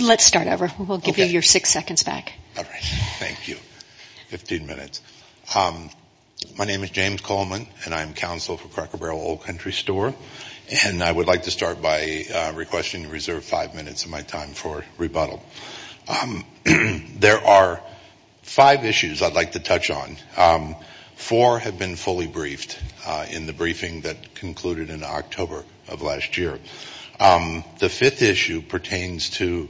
Let's start over. We'll give you your six seconds back. All right. Thank you. Fifteen minutes. My name is James Coleman, and I am counsel for Cracker Barrel Old Country Store. And I would like to start by requesting you reserve five minutes of my time for rebuttal. There are five issues I'd like to touch on. Four have been fully briefed in the briefing that concluded in October of last year. The fifth issue pertains to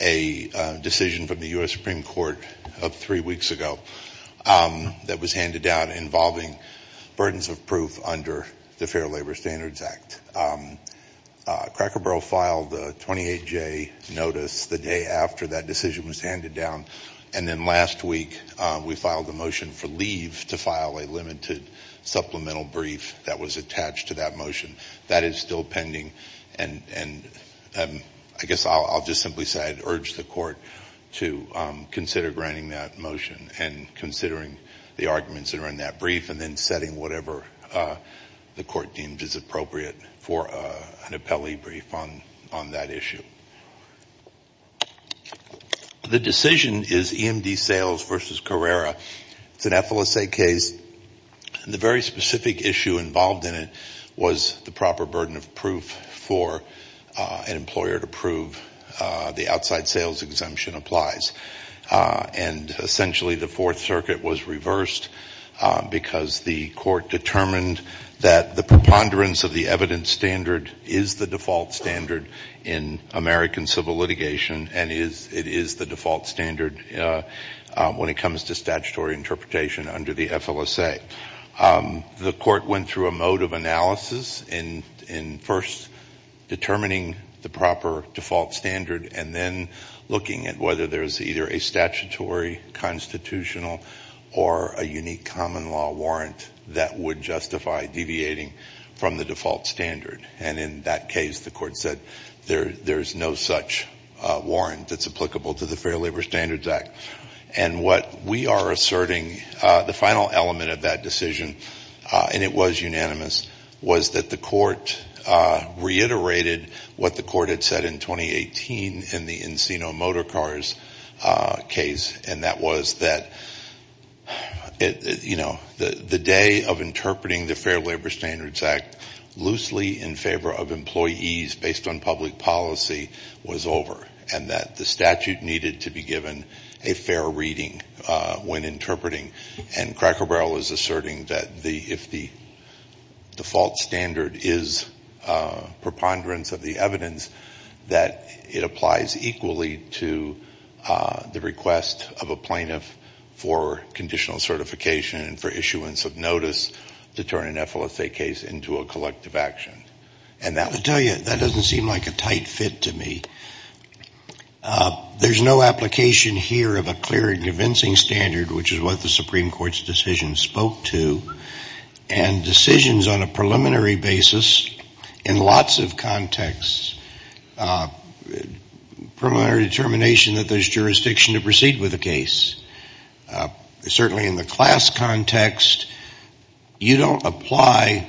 a decision from the U.S. Supreme Court of three weeks ago that was handed down involving burdens of proof under the Fair Labor Standards Act. Cracker Barrel filed a 28-J notice the day after that decision was handed down. And then last week we filed a motion for leave to file a limited supplemental brief that was attached to that motion. That is still pending, and I guess I'll just simply say I'd urge the court to consider granting that motion and considering the arguments that are in that brief and then setting whatever the court deems is appropriate for an appellee brief on that issue. The decision is EMD Sales v. Carrera. It's an FLSA case. The very specific issue involved in it was the proper burden of proof for an employer to prove the outside sales exemption applies. And essentially the Fourth Circuit was reversed because the court determined that the preponderance of the evidence standard is the default standard in American civil litigation, and it is the default standard when it comes to statutory interpretation under the FLSA. The court went through a mode of analysis in first determining the proper default standard and then looking at whether there's either a statutory constitutional or a unique common law warrant that would justify deviating from the default standard. And in that case, the court said there's no such warrant that's applicable to the Fair Labor Standards Act. And what we are asserting, the final element of that decision, and it was unanimous, was that the court reiterated what the court had said in 2018 in the Encino Motor Cars case, and that was that the day of interpreting the Fair Labor Standards Act loosely in favor of employees based on public policy was over and that the statute needed to be given a fair reading when interpreting. And Cracker Barrel is asserting that if the default standard is preponderance of the evidence, that it applies equally to the request of a plaintiff for conditional certification and for issuance of notice to turn an FLSA case into a collective action. And I'll tell you, that doesn't seem like a tight fit to me. There's no application here of a clear and convincing standard, which is what the Supreme Court's decision spoke to, and decisions on a preliminary basis in lots of contexts, preliminary determination that there's jurisdiction to proceed with a case. Certainly in the class context, you don't apply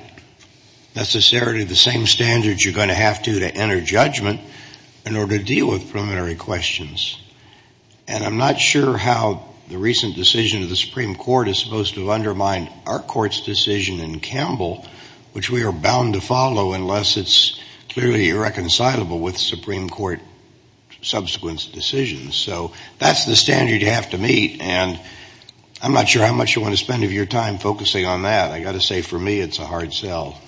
necessarily the same standards you're going to have to to enter judgment in order to deal with preliminary questions. And I'm not sure how the recent decision of the Supreme Court is supposed to undermine our court's decision in Campbell, which we are bound to follow unless it's clearly irreconcilable with Supreme Court subsequent decisions. So that's the standard you have to meet, and I'm not sure how much you want to spend of your time focusing on that. I've got to say, for me, it's a hard sell.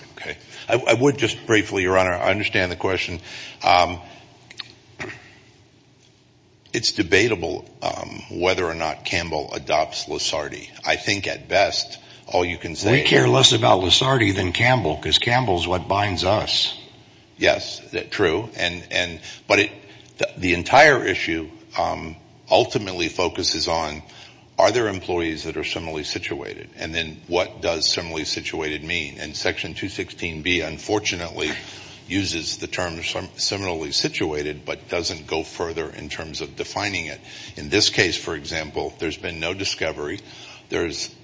I would just briefly, Your Honor, I understand the question. It's debatable whether or not Campbell adopts Lissardi. I think at best, all you can say is- We care less about Lissardi than Campbell, because Campbell's what binds us. Yes, true. But the entire issue ultimately focuses on, are there employees that are similarly situated? And then what does similarly situated mean? And Section 216B, unfortunately, uses the term similarly situated but doesn't go further in terms of defining it. In this case, for example, there's been no discovery. There's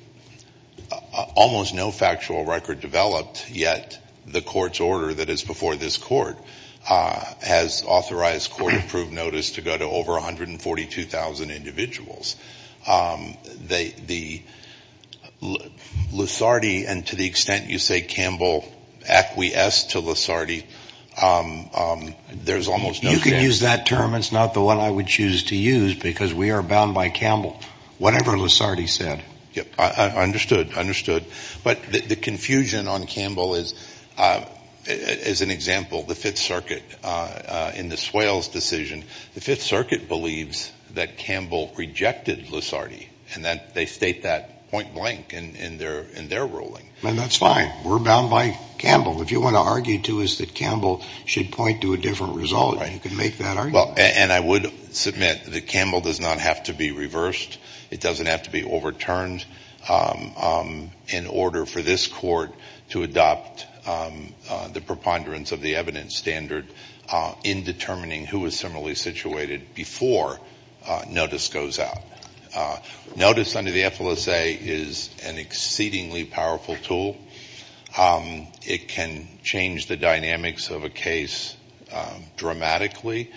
almost no factual record developed, yet the court's order that is before this court has authorized court-approved notice to go to over 142,000 individuals. The Lissardi, and to the extent you say Campbell acquiesced to Lissardi, there's almost no- You could use that term. It's not the one I would choose to use, because we are bound by Campbell. Whatever Lissardi said. I understood. I understood. But the confusion on Campbell is an example. The Fifth Circuit, in the Swales decision, the Fifth Circuit believes that Campbell rejected Lissardi, and they state that point blank in their ruling. That's fine. We're bound by Campbell. What you want to argue, too, is that Campbell should point to a different result. You can make that argument. And I would submit that Campbell does not have to be reversed. It doesn't have to be overturned in order for this court to adopt the preponderance of the evidence standard in determining who is similarly situated before notice goes out. Notice under the FLSA is an exceedingly powerful tool. It can change the dynamics of a case dramatically.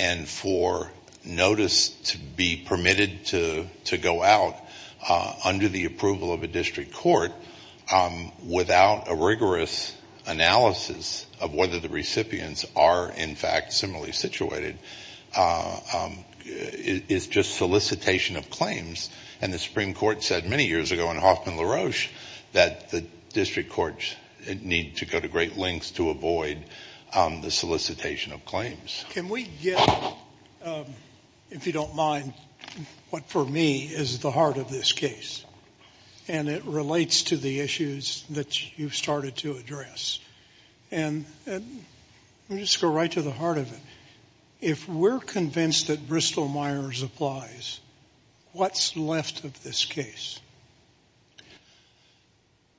And for notice to be permitted to go out under the approval of a district court without a rigorous analysis of whether the recipients are, in fact, similarly situated is just solicitation of claims. And the Supreme Court said many years ago in Hoffman-LaRoche that the district courts need to go to great lengths to avoid the solicitation of claims. Can we get, if you don't mind, what for me is the heart of this case, and it relates to the issues that you've started to address. And let me just go right to the heart of it. If we're convinced that Bristol-Myers applies, what's left of this case?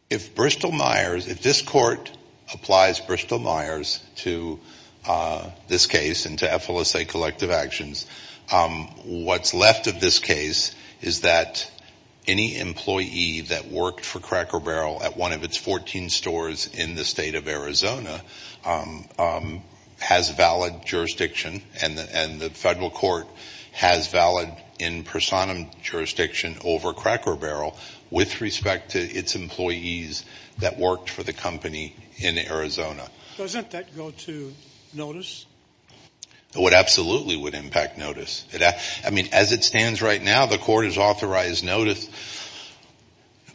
If Bristol-Myers, if this court applies Bristol-Myers to this case and to FLSA collective actions, what's left of this case is that any employee that worked for Cracker Barrel at one of its 14 stores in the state of Arizona has valid jurisdiction and the federal court has valid in personam jurisdiction over Cracker Barrel with respect to its employees that worked for the company in Arizona. Doesn't that go to notice? It absolutely would impact notice. I mean, as it stands right now, the court has authorized notice.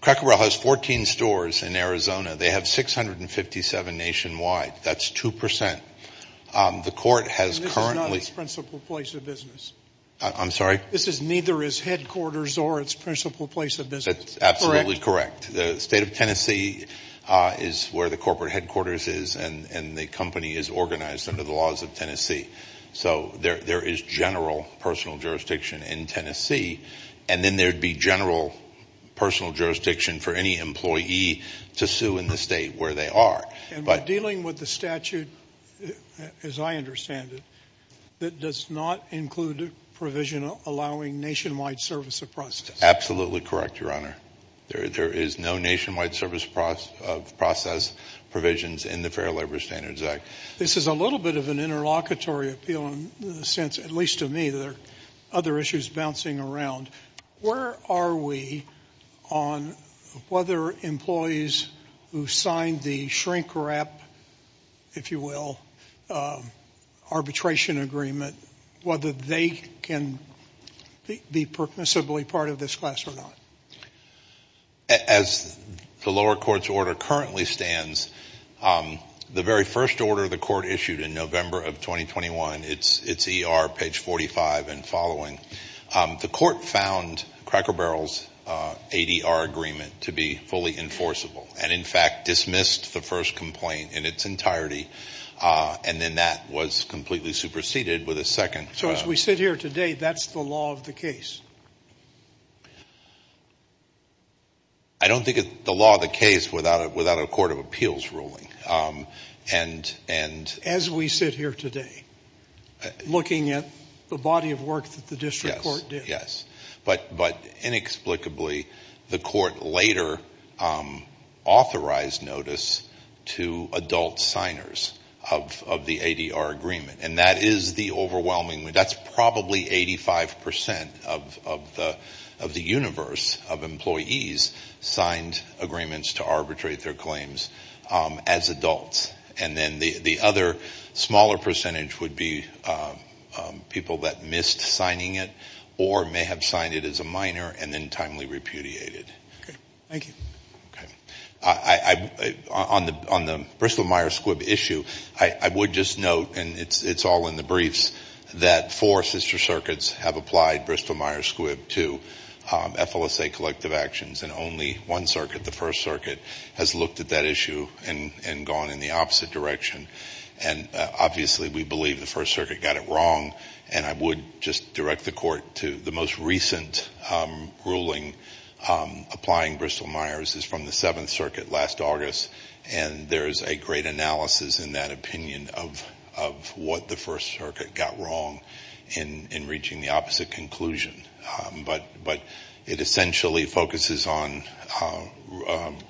Cracker Barrel has 14 stores in Arizona. They have 657 nationwide. That's 2%. The court has currently – This is not its principal place of business. I'm sorry? This is neither its headquarters or its principal place of business. That's absolutely correct. The state of Tennessee is where the corporate headquarters is, and the company is organized under the laws of Tennessee. So there is general personal jurisdiction in Tennessee, and then there would be general personal jurisdiction for any employee to sue in the state where they are. And we're dealing with the statute, as I understand it, that does not include a provision allowing nationwide service of process. Absolutely correct, Your Honor. There is no nationwide service of process provisions in the Fair Labor Standards Act. This is a little bit of an interlocutory appeal in the sense, at least to me, with other issues bouncing around. Where are we on whether employees who signed the shrink-wrap, if you will, arbitration agreement, whether they can be permissibly part of this class or not? As the lower court's order currently stands, the very first order the court issued in November of 2021, it's ER page 45 and following, the court found Cracker Barrel's ADR agreement to be fully enforceable and, in fact, dismissed the first complaint in its entirety, and then that was completely superseded with a second. So as we sit here today, that's the law of the case? I don't think it's the law of the case without a court of appeals ruling. As we sit here today, looking at the body of work that the district court did. Yes, yes. But inexplicably, the court later authorized notice to adult signers of the ADR agreement, and that is the overwhelming one. And then the other smaller percentage would be people that missed signing it or may have signed it as a minor and then timely repudiated. Thank you. On the Bristol-Myers Squibb issue, I would just note, and it's all in the briefs, that four sister circuits have applied Bristol-Myers Squibb to FLSA collective actions, and only one circuit, the First Circuit, has looked at that issue and gone in the opposite direction. And obviously we believe the First Circuit got it wrong, and I would just direct the court to the most recent ruling applying Bristol-Myers is from the Seventh Circuit last August, and there is a great analysis in that opinion of what the First Circuit got wrong in reaching the opposite conclusion. But it essentially focuses on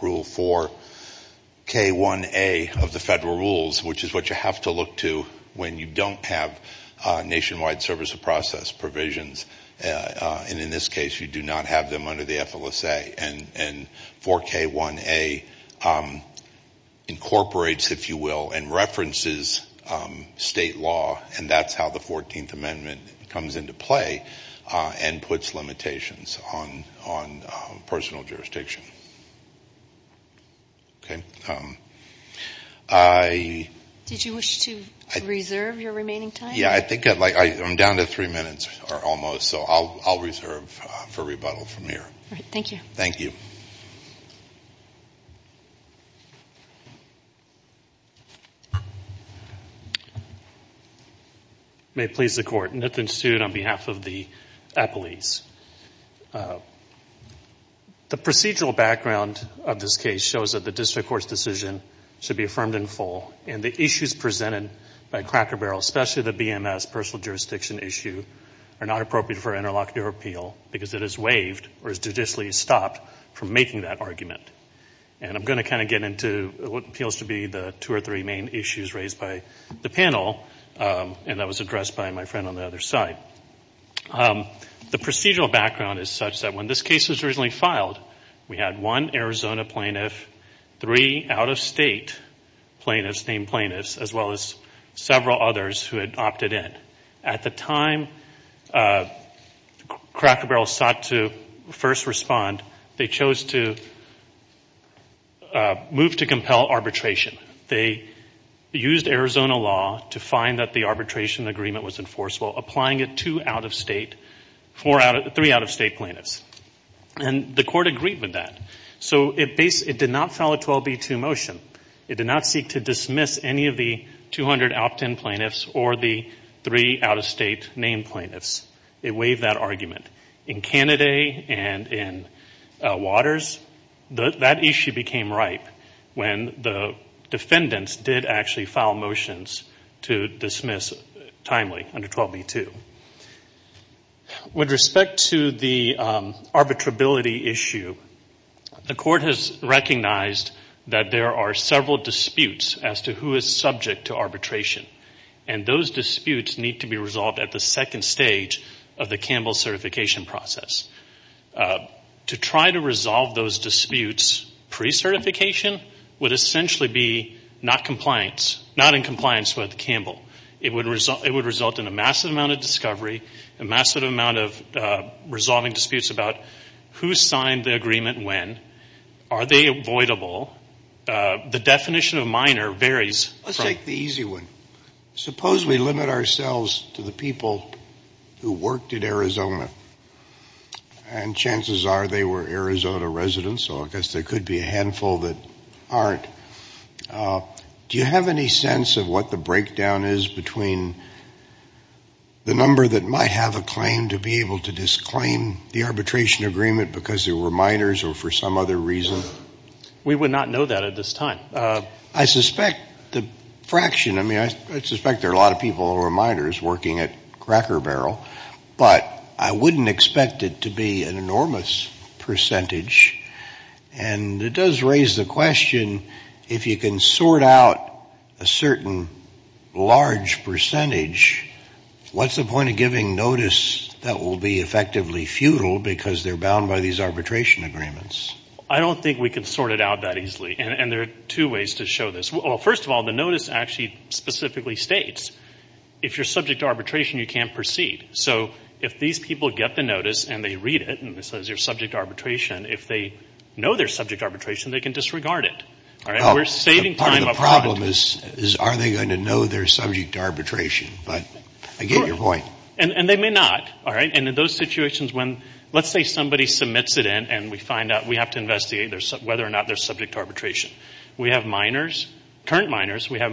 Rule 4K1A of the federal rules, which is what you have to look to when you don't have nationwide service of process provisions, and in this case you do not have them under the FLSA. And 4K1A incorporates, if you will, and references state law, and that's how the 14th Amendment comes into play and puts limitations on personal jurisdiction. Okay. Did you wish to reserve your remaining time? Yeah, I think I'm down to three minutes or almost, so I'll reserve for rebuttal from here. All right. Thank you. Thank you. May it please the Court. Nithin Sood on behalf of the Appellees. The procedural background of this case shows that the district court's decision should be affirmed in full, and the issues presented by Cracker Barrel, especially the BMS, personal jurisdiction issue, are not appropriate for interlocutor appeal because it is waived or is judicially stopped from making that argument. And I'm going to kind of get into what appeals to be the two or three main issues raised by the panel, and that was addressed by my friend on the other side. The procedural background is such that when this case was originally filed, we had one Arizona plaintiff, three out-of-state plaintiffs, named plaintiffs, as well as several others who had opted in. At the time Cracker Barrel sought to first respond, they chose to move to compel arbitration. They used Arizona law to find that the arbitration agreement was enforceable, applying it to three out-of-state plaintiffs. And the court agreed with that. So it did not file a 12B2 motion. It did not seek to dismiss any of the 200 opt-in plaintiffs or the three out-of-state named plaintiffs. It waived that argument. In Cannaday and in Waters, that issue became ripe when the defendants did actually file motions to dismiss timely under 12B2. With respect to the arbitrability issue, the court has recognized that there are several disputes as to who is subject to arbitration, and those disputes need to be resolved at the second stage of the Campbell certification process. To try to resolve those disputes pre-certification would essentially be not in compliance with Campbell. It would result in a massive amount of discovery, a massive amount of resolving disputes about who signed the agreement when. Are they avoidable? The definition of minor varies. Let's take the easy one. Suppose we limit ourselves to the people who worked at Arizona, and chances are they were Arizona residents, so I guess there could be a handful that aren't. Do you have any sense of what the breakdown is between the number that might have a claim to be able to disclaim the arbitration agreement because they were minors or for some other reason? We would not know that at this time. I suspect the fraction, I mean, I suspect there are a lot of people who are minors working at Cracker Barrel, but I wouldn't expect it to be an enormous percentage, and it does raise the question if you can sort out a certain large percentage, what's the point of giving notice that will be effectively futile because they're bound by these arbitration agreements? I don't think we can sort it out that easily, and there are two ways to show this. Well, first of all, the notice actually specifically states if you're subject to arbitration, you can't proceed. So if these people get the notice and they read it and it says you're subject to arbitration, if they know they're subject to arbitration, they can disregard it. Part of the problem is are they going to know they're subject to arbitration, but I get your point. And they may not, all right? And in those situations when, let's say somebody submits it in and we find out we have to investigate whether or not they're subject to arbitration. We have minors, current minors. We have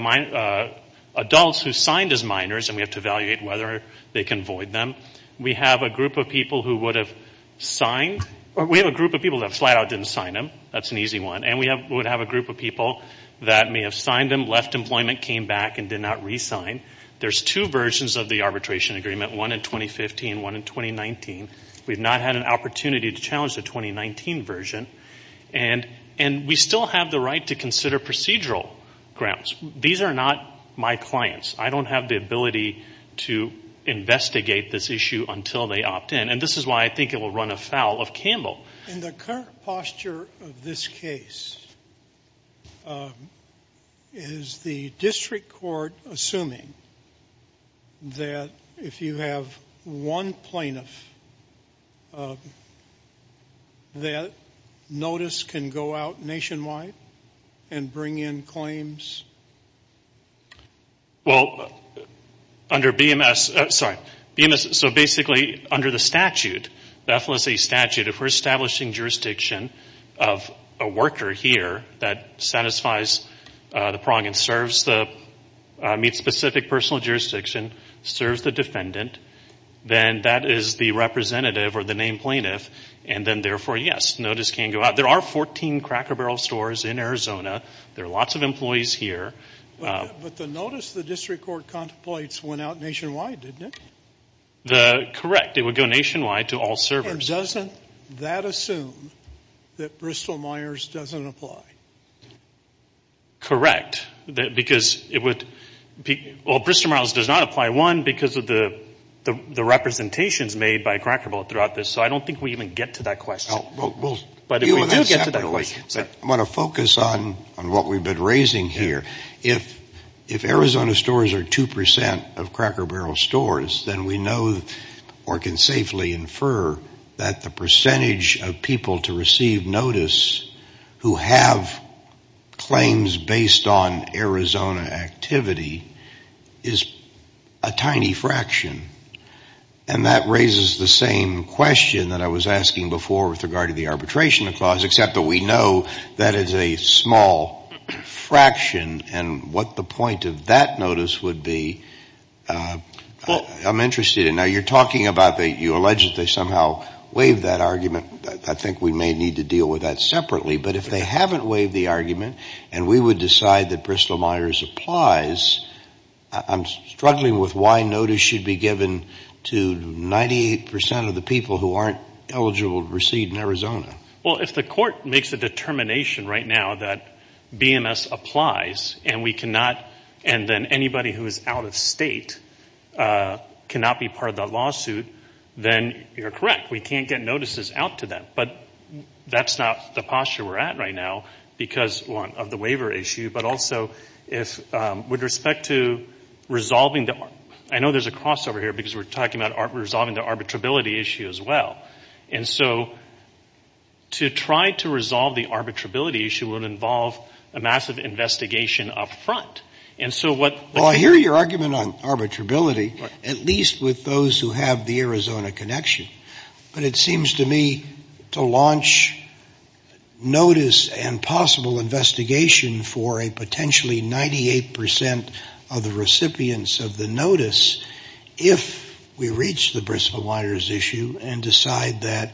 adults who signed as minors and we have to evaluate whether they can void them. We have a group of people who would have signed. We have a group of people that flat out didn't sign them. That's an easy one. And we would have a group of people that may have signed them, left employment, came back and did not re-sign. There's two versions of the arbitration agreement, one in 2015 and one in 2019. We've not had an opportunity to challenge the 2019 version. And we still have the right to consider procedural grounds. These are not my clients. I don't have the ability to investigate this issue until they opt in. And this is why I think it will run afoul of Campbell. In the current posture of this case, is the district court assuming that if you have one plaintiff, that notice can go out nationwide and bring in claims? Well, under BMS, sorry, so basically under the statute, the FLSA statute, if we're establishing jurisdiction of a worker here that satisfies the prong and meets specific personal jurisdiction, serves the defendant, then that is the representative or the named plaintiff. And then, therefore, yes, notice can go out. There are 14 Cracker Barrel stores in Arizona. There are lots of employees here. But the notice the district court contemplates went out nationwide, didn't it? Correct. It would go nationwide to all servers. And doesn't that assume that Bristol-Myers doesn't apply? Correct. Because it would be – well, Bristol-Myers does not apply, one, because of the representations made by Cracker Barrel throughout this. So I don't think we even get to that question. But we do get to that question. I want to focus on what we've been raising here. If Arizona stores are 2% of Cracker Barrel stores, then we know or can safely infer that the percentage of people to receive notice who have claims based on Arizona activity is a tiny fraction. And that raises the same question that I was asking before with regard to the arbitration clause, except that we know that it's a small fraction. And what the point of that notice would be, I'm interested in. Now, you're talking about that you allege that they somehow waived that argument. I think we may need to deal with that separately. But if they haven't waived the argument and we would decide that Bristol-Myers applies, I'm struggling with why notice should be given to 98% of the people who aren't eligible to receive in Arizona. Well, if the court makes a determination right now that BMS applies and then anybody who is out of state cannot be part of the lawsuit, then you're correct. We can't get notices out to them. But that's not the posture we're at right now because of the waiver issue, but also with respect to resolving the—I know there's a crossover here because we're talking about resolving the arbitrability issue as well. And so to try to resolve the arbitrability issue would involve a massive investigation up front. And so what— Well, I hear your argument on arbitrability, at least with those who have the Arizona connection. But it seems to me to launch notice and possible investigation for a potentially 98% of the recipients of the notice if we reach the Bristol-Myers issue and decide that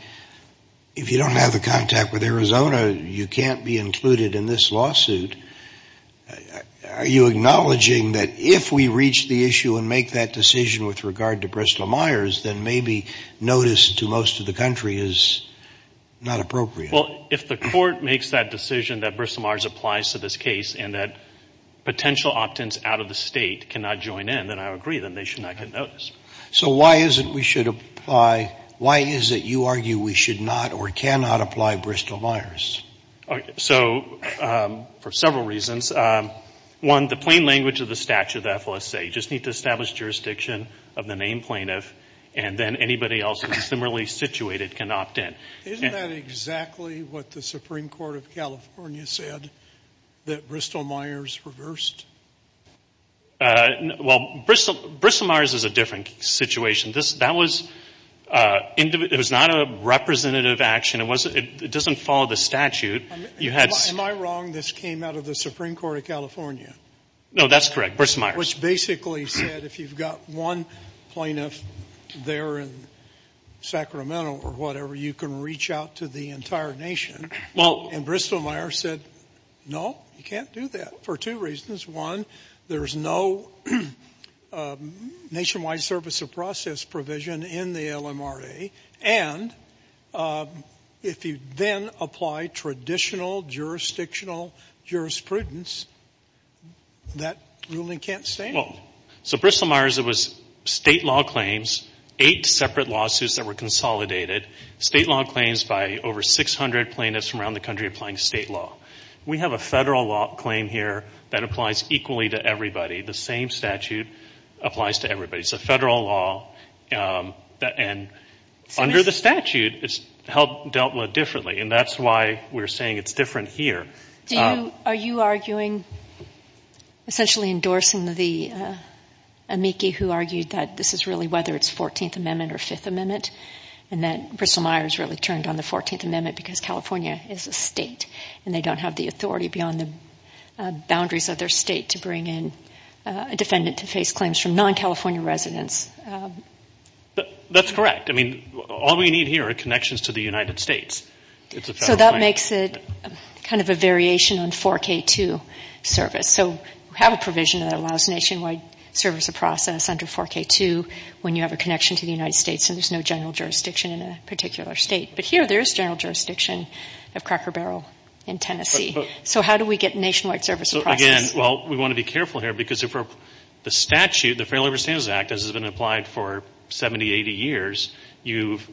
if you don't have the contact with Arizona, you can't be included in this lawsuit. Are you acknowledging that if we reach the issue and make that decision with regard to Bristol-Myers, then maybe notice to most of the country is not appropriate? Well, if the court makes that decision that Bristol-Myers applies to this case and that potential opt-ins out of the state cannot join in, then I agree. Then they should not get notice. So why is it we should apply—why is it you argue we should not or cannot apply Bristol-Myers? So for several reasons. One, the plain language of the statute, the FLSA, you just need to establish jurisdiction of the named plaintiff and then anybody else who's similarly situated can opt in. Isn't that exactly what the Supreme Court of California said, that Bristol-Myers reversed? Well, Bristol-Myers is a different situation. That was not a representative action. It doesn't follow the statute. Am I wrong this came out of the Supreme Court of California? No, that's correct, Bristol-Myers. Which basically said if you've got one plaintiff there in Sacramento or whatever, you can reach out to the entire nation. And Bristol-Myers said, no, you can't do that for two reasons. One, there's no nationwide service of process provision in the LMRA. And if you then apply traditional jurisdictional jurisprudence, that ruling can't stand. Well, so Bristol-Myers, it was State law claims, eight separate lawsuits that were consolidated, State law claims by over 600 plaintiffs from around the country applying State law. We have a Federal law claim here that applies equally to everybody. The same statute applies to everybody. It's a Federal law. And under the statute, it's dealt with differently. And that's why we're saying it's different here. Are you arguing, essentially endorsing the amici who argued that this is really, whether it's 14th Amendment or 5th Amendment, and that Bristol-Myers really turned on the 14th Amendment because California is a state and they don't have the authority beyond the boundaries of their state to bring in a defendant to face claims from non-California residents? That's correct. I mean, all we need here are connections to the United States. It's a Federal claim. So that makes it kind of a variation on 4K2 service. So we have a provision that allows nationwide service of process under 4K2 when you have a connection to the United States and there's no general jurisdiction in a particular state. But here there is general jurisdiction of Cracker Barrel in Tennessee. So how do we get nationwide service of process? Again, well, we want to be careful here because the statute, the Fair Labor Standards Act as it's been applied for 70, 80 years, you've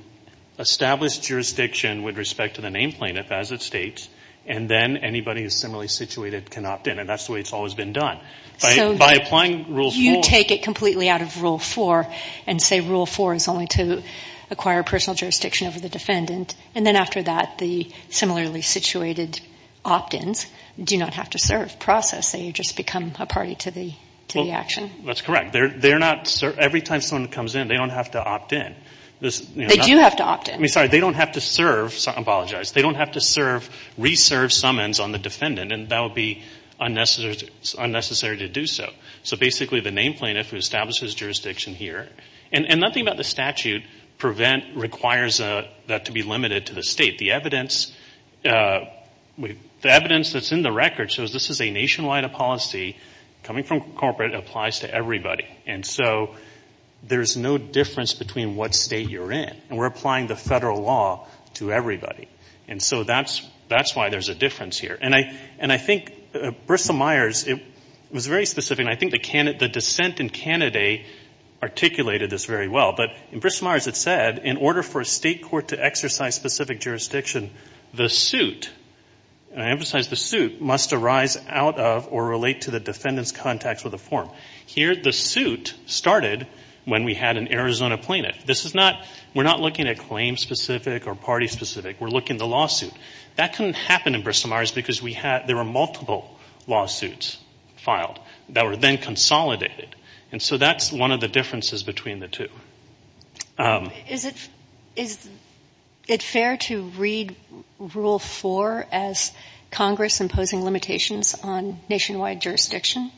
established jurisdiction with respect to the name plaintiff as it states, and then anybody who's similarly situated can opt in. And that's the way it's always been done. By applying Rule 4. You take it completely out of Rule 4 and say Rule 4 is only to acquire personal jurisdiction over the defendant, and then after that, the similarly situated opt-ins do not have to serve process. They just become a party to the action. That's correct. Every time someone comes in, they don't have to opt in. They do have to opt in. I'm sorry. They don't have to serve. I apologize. They don't have to reserve summons on the defendant, and that would be unnecessary to do so. So basically the name plaintiff who establishes jurisdiction here, and nothing about the statute requires that to be limited to the state. The evidence that's in the record shows this is a nationwide policy coming from corporate and applies to everybody. And so there's no difference between what state you're in, and we're applying the federal law to everybody. And so that's why there's a difference here. And I think Bristol-Myers, it was very specific, and I think the dissent in Canada articulated this very well. But in Bristol-Myers it said, in order for a state court to exercise specific jurisdiction, the suit, and I emphasize the suit, must arise out of or relate to the defendant's contacts with a form. Here the suit started when we had an Arizona plaintiff. We're not looking at claim-specific or party-specific. We're looking at the lawsuit. That couldn't happen in Bristol-Myers because there were multiple lawsuits filed that were then consolidated. And so that's one of the differences between the two. Is it fair to read Rule 4 as Congress imposing limitations on nationwide jurisdiction?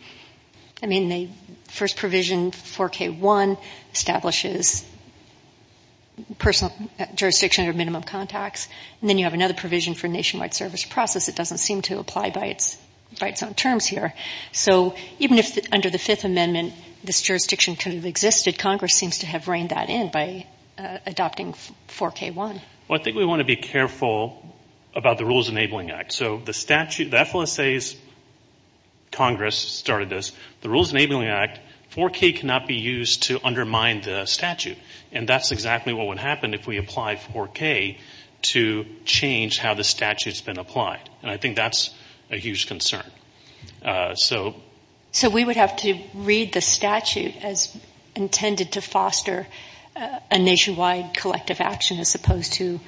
I mean, the first provision, 4K1, establishes jurisdiction under minimum contacts, and then you have another provision for nationwide service process. It doesn't seem to apply by its own terms here. So even if under the Fifth Amendment this jurisdiction could have existed, Congress seems to have reined that in by adopting 4K1. Well, I think we want to be careful about the Rules Enabling Act. So the statute, the FLSA's Congress started this. The Rules Enabling Act, 4K cannot be used to undermine the statute. And that's exactly what would happen if we applied 4K to change how the statute's been applied. And I think that's a huge concern. So we would have to read the statute as intended to foster a nationwide collective action as opposed to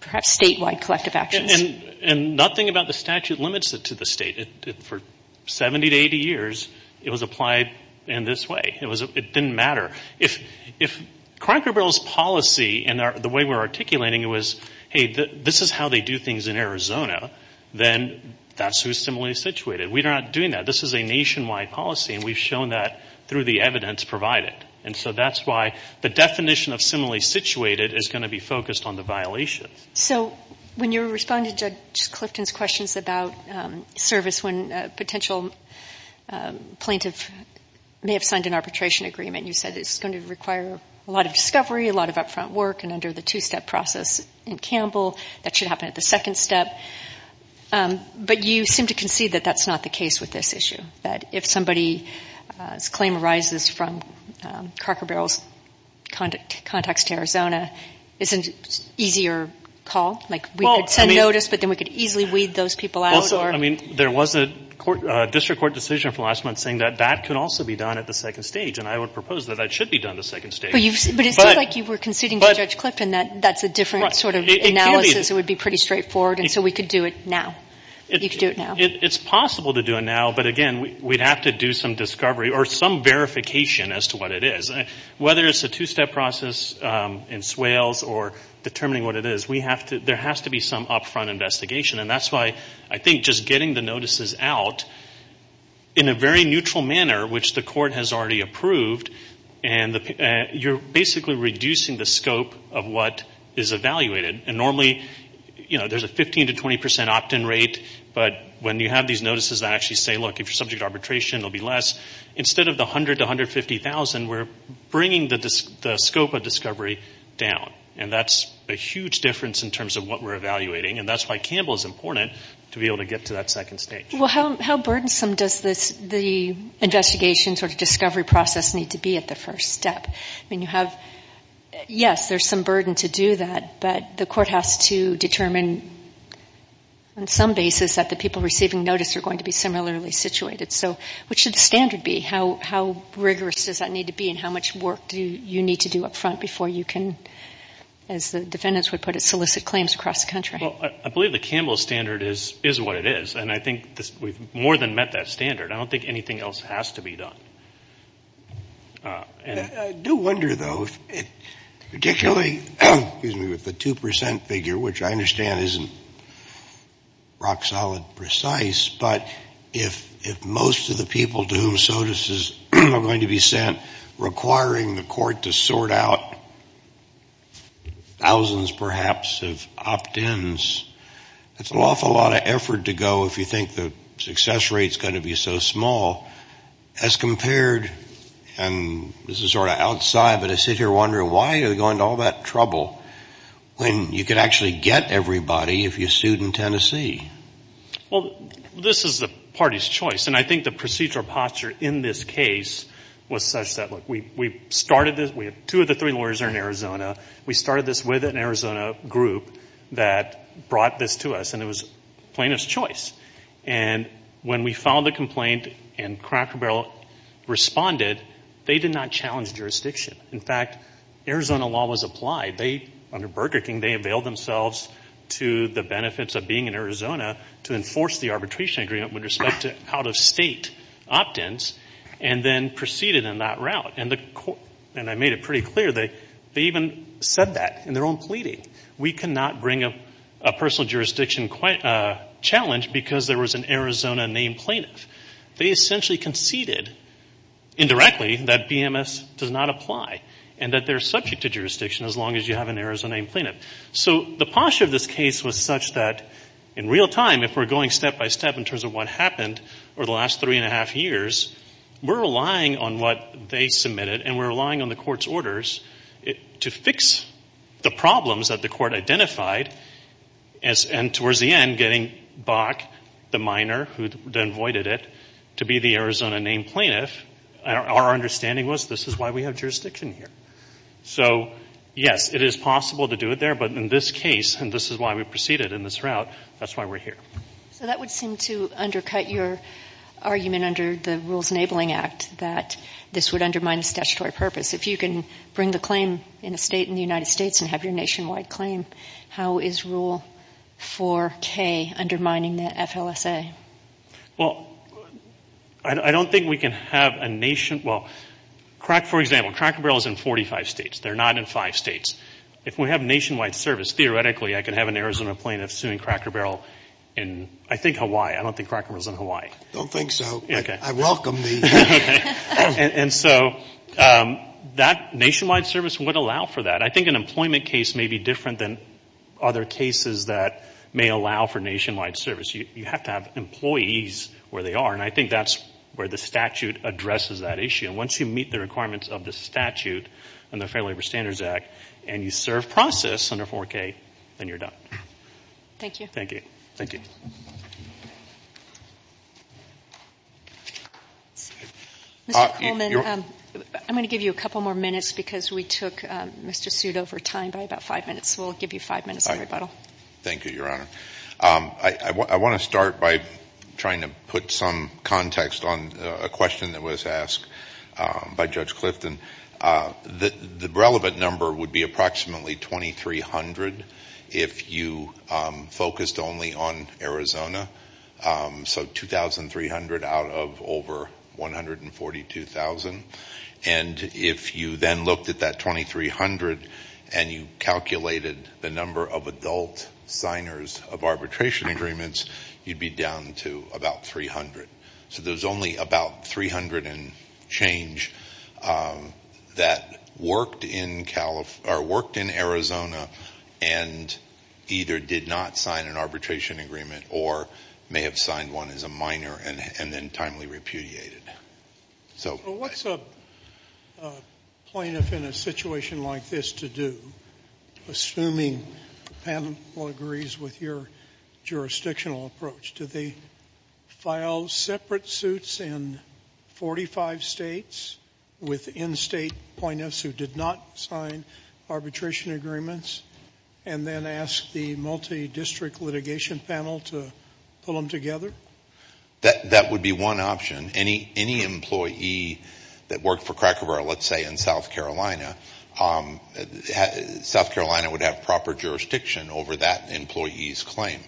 perhaps statewide collective actions. And nothing about the statute limits it to the state. For 70 to 80 years, it was applied in this way. It didn't matter. If Cranker Bill's policy and the way we're articulating it was, hey, this is how they do things in Arizona, then that's who's similarly situated. We're not doing that. This is a nationwide policy, and we've shown that through the evidence provided. And so that's why the definition of similarly situated is going to be focused on the violations. So when you were responding to Judge Clifton's questions about service, when a potential plaintiff may have signed an arbitration agreement, you said it's going to require a lot of discovery, a lot of upfront work, and under the two-step process in Campbell, that should happen at the second step. But you seem to concede that that's not the case with this issue, that if somebody's claim arises from Cranker Bill's context to Arizona, it's an easier call. Like we could send notice, but then we could easily weed those people out. Well, so, I mean, there was a district court decision from last month saying that that could also be done at the second stage. And I would propose that that should be done at the second stage. But it seems like you were conceding to Judge Clifton that that's a different sort of analysis. It would be pretty straightforward. And so we could do it now. You could do it now. It's possible to do it now, but, again, we'd have to do some discovery or some verification as to what it is. Whether it's a two-step process in Swales or determining what it is, there has to be some upfront investigation. And that's why I think just getting the notices out in a very neutral manner, which the court has already approved, and you're basically reducing the scope of what is evaluated. And normally, you know, there's a 15% to 20% opt-in rate. But when you have these notices that actually say, look, if you're subject to arbitration, it will be less, instead of the 100,000 to 150,000, we're bringing the scope of discovery down. And that's a huge difference in terms of what we're evaluating. And that's why Campbell is important to be able to get to that second stage. Well, how burdensome does the investigation sort of discovery process need to be at the first step? I mean, you have, yes, there's some burden to do that, but the court has to determine on some basis that the people receiving notice are going to be similarly situated. So what should the standard be? How rigorous does that need to be, and how much work do you need to do up front before you can, as the defendants would put it, solicit claims across the country? Well, I believe the Campbell standard is what it is. And I think we've more than met that standard. I don't think anything else has to be done. I do wonder, though, particularly with the 2% figure, which I understand isn't rock solid precise, but if most of the people to whom notices are going to be sent requiring the court to sort out thousands, perhaps, of opt-ins, that's an awful lot of effort to go if you think the success rate is going to be so small. As compared, and this is sort of outside, but I sit here wondering why are they going to all that trouble when you could actually get everybody if you sued in Tennessee? Well, this is the party's choice. And I think the procedure posture in this case was such that, look, we started this, we have two of the three lawyers are in Arizona. We started this with an Arizona group that brought this to us, and it was plaintiff's choice. And when we filed the complaint and Cracker Barrel responded, they did not challenge jurisdiction. In fact, Arizona law was applied. They, under Burger King, they availed themselves to the benefits of being in Arizona to enforce the arbitration agreement with respect to out-of-state opt-ins and then proceeded in that route. And I made it pretty clear, they even said that in their own pleading. We cannot bring a personal jurisdiction challenge because there was an Arizona-named plaintiff. They essentially conceded, indirectly, that BMS does not apply and that they're subject to jurisdiction as long as you have an Arizona-named plaintiff. So the posture of this case was such that, in real time, if we're going step-by-step in terms of what happened over the last three and a half years, we're relying on what they submitted and we're relying on the court's orders to fix the problems that the court identified. And towards the end, getting Bach, the minor who then voided it, to be the Arizona-named plaintiff, our understanding was this is why we have jurisdiction here. So, yes, it is possible to do it there, but in this case, and this is why we proceeded in this route, that's why we're here. So that would seem to undercut your argument under the Rules Enabling Act that this would undermine the statutory purpose. If you can bring the claim in a state in the United States and have your nationwide claim, how is Rule 4K undermining the FLSA? Well, I don't think we can have a nation, well, for example, Cracker Barrel is in 45 states. They're not in five states. If we have nationwide service, theoretically, I could have an Arizona plaintiff suing Cracker Barrel in, I think, Hawaii. I don't think Cracker Barrel is in Hawaii. I don't think so. I welcome these. And so that nationwide service would allow for that. I think an employment case may be different than other cases that may allow for nationwide service. You have to have employees where they are, and I think that's where the statute addresses that issue. And once you meet the requirements of the statute in the Fair Labor Standards Act and you serve process under 4K, then you're done. Thank you. Thank you. Thank you. Mr. Coleman, I'm going to give you a couple more minutes because we took Mr. Sudo for time by about five minutes. We'll give you five minutes on rebuttal. Thank you, Your Honor. I want to start by trying to put some context on a question that was asked by Judge Clifton. The relevant number would be approximately 2,300 if you focused only on Arizona. So 2,300 out of over 142,000. And if you then looked at that 2,300 and you calculated the number of adult signers of arbitration agreements, you'd be down to about 300. So there's only about 300 and change that worked in Arizona and either did not sign an arbitration agreement or may have signed one as a minor and then timely repudiated. So what's a plaintiff in a situation like this to do, assuming the panel agrees with your jurisdictional approach? Do they file separate suits in 45 states with in-state plaintiffs who did not sign arbitration agreements and then ask the multi-district litigation panel to pull them together? That would be one option. Any employee that worked for Kracovar, let's say in South Carolina, South Carolina would have proper jurisdiction over that employee's claim.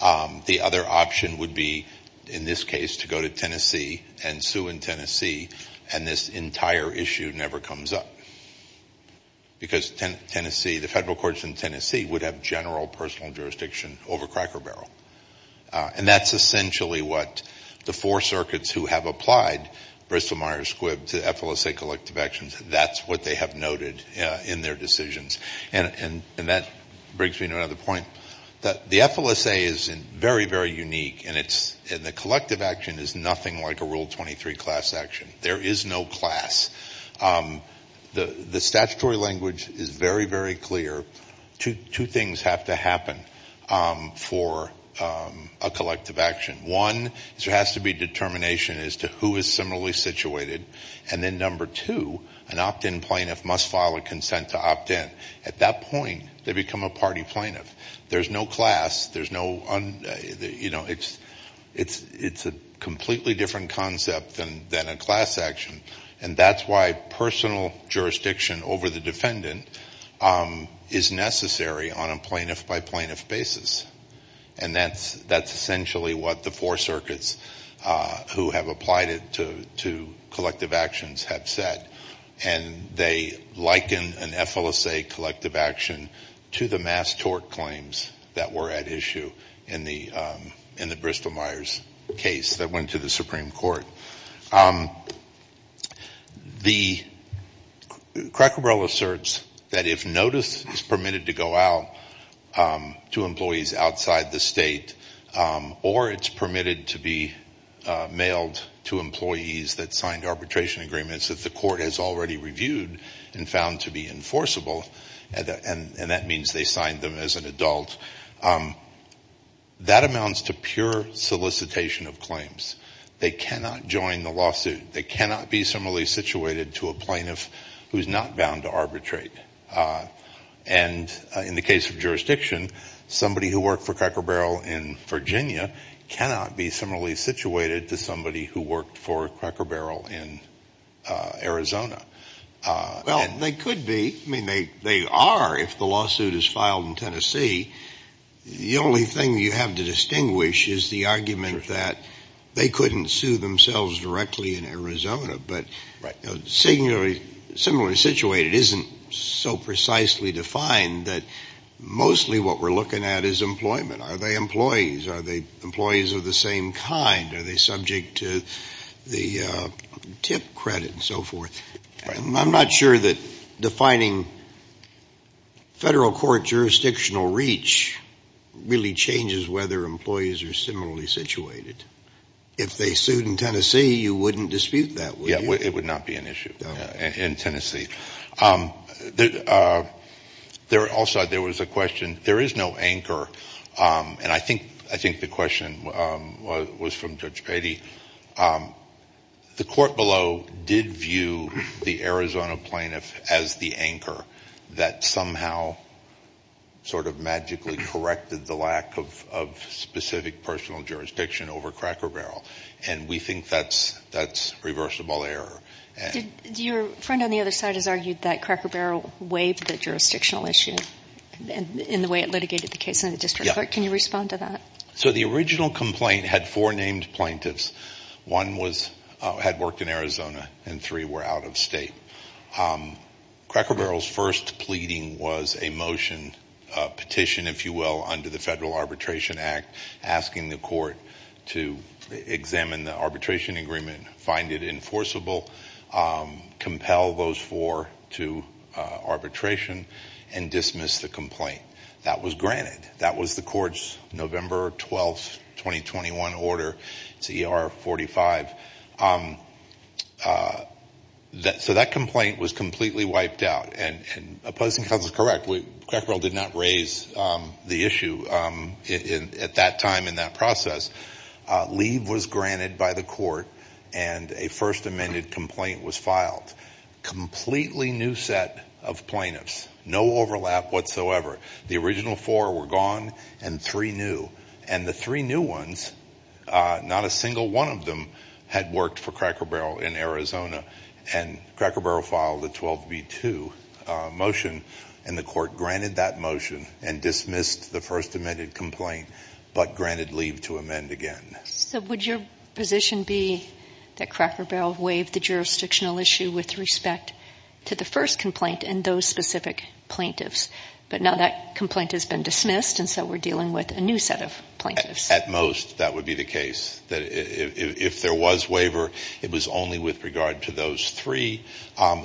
The other option would be, in this case, to go to Tennessee and sue in Tennessee and this entire issue never comes up because Tennessee, the federal courts in Tennessee, would have general personal jurisdiction over Kracovar. And that's essentially what the four circuits who have applied Bristol-Myers-Squibb to FLSA collective actions, that's what they have noted in their decisions. And that brings me to another point. The FLSA is very, very unique, and the collective action is nothing like a Rule 23 class action. There is no class. The statutory language is very, very clear. Two things have to happen for a collective action. One is there has to be determination as to who is similarly situated, and then number two, an opt-in plaintiff must file a consent to opt-in. At that point, they become a party plaintiff. There's no class. There's no, you know, it's a completely different concept than a class action, and that's why personal jurisdiction over the defendant is necessary on a plaintiff-by-plaintiff basis. And that's essentially what the four circuits who have applied it to collective actions have said. And they liken an FLSA collective action to the mass tort claims that were at issue in the Bristol-Myers case that went to the Supreme Court. The Cracker Barrel asserts that if notice is permitted to go out to employees outside the state or it's permitted to be mailed to employees that signed arbitration agreements that the court has already reviewed and found to be enforceable, and that means they signed them as an adult, that amounts to pure solicitation of claims. They cannot join the lawsuit. They cannot be similarly situated to a plaintiff who's not bound to arbitrate. And in the case of jurisdiction, somebody who worked for Cracker Barrel in Virginia cannot be similarly situated to somebody who worked for Cracker Barrel in Arizona. Well, they could be. I mean, they are if the lawsuit is filed in Tennessee. The only thing you have to distinguish is the argument that they couldn't sue themselves directly in Arizona. But similarly situated isn't so precisely defined that mostly what we're looking at is employment. Are they employees? Are they employees of the same kind? Are they subject to the TIP credit and so forth? I'm not sure that defining federal court jurisdictional reach really changes whether employees are similarly situated. If they sued in Tennessee, you wouldn't dispute that, would you? Yeah, it would not be an issue in Tennessee. Also, there was a question. There is no anchor, and I think the question was from Judge Patey. The court below did view the Arizona plaintiff as the anchor that somehow sort of magically corrected the lack of specific personal jurisdiction over Cracker Barrel. And we think that's reversible error. Your friend on the other side has argued that Cracker Barrel waived the jurisdictional issue in the way it litigated the case in the district court. Can you respond to that? So the original complaint had four named plaintiffs. One had worked in Arizona, and three were out of state. Cracker Barrel's first pleading was a motion petition, if you will, under the Federal Arbitration Act, asking the court to examine the arbitration agreement, find it enforceable, compel those four to arbitration, and dismiss the complaint. That was granted. That was the court's November 12, 2021 order. It's ER 45. So that complaint was completely wiped out. And opposing counsel is correct. Cracker Barrel did not raise the issue at that time in that process. Leave was granted by the court, and a first amended complaint was filed. Completely new set of plaintiffs. No overlap whatsoever. The original four were gone, and three new. And the three new ones, not a single one of them had worked for Cracker Barrel in Arizona. And Cracker Barrel filed a 12B2 motion, and the court granted that motion and dismissed the first amended complaint, but granted leave to amend again. So would your position be that Cracker Barrel waived the jurisdictional issue with respect to the first complaint and those specific plaintiffs? But now that complaint has been dismissed, and so we're dealing with a new set of plaintiffs. At most, that would be the case. If there was waiver, it was only with regard to those three,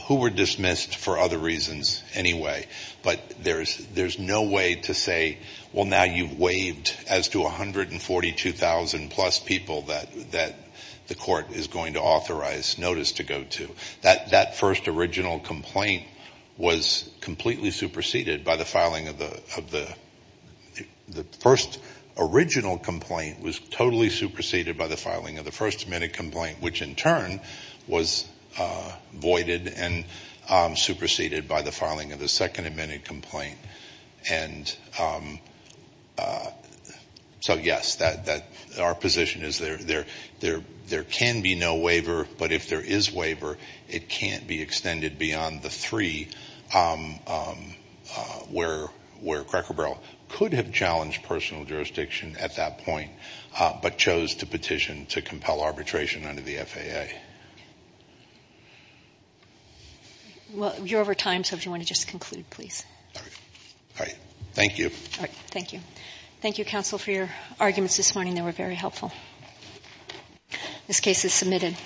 who were dismissed for other reasons anyway. But there's no way to say, well, now you've waived as to 142,000-plus people that the court is going to authorize notice to go to. So that first original complaint was completely superseded by the filing of the first amended complaint, which in turn was voided and superseded by the filing of the second amended complaint. And so, yes, our position is there can be no waiver, but if there is waiver, it can't be extended beyond the three where Cracker Barrel could have challenged personal jurisdiction at that point, but chose to petition to compel arbitration under the FAA. Okay. Well, you're over time, so if you want to just conclude, please. All right. Thank you. Thank you. Thank you, counsel, for your arguments this morning. They were very helpful. This case is submitted.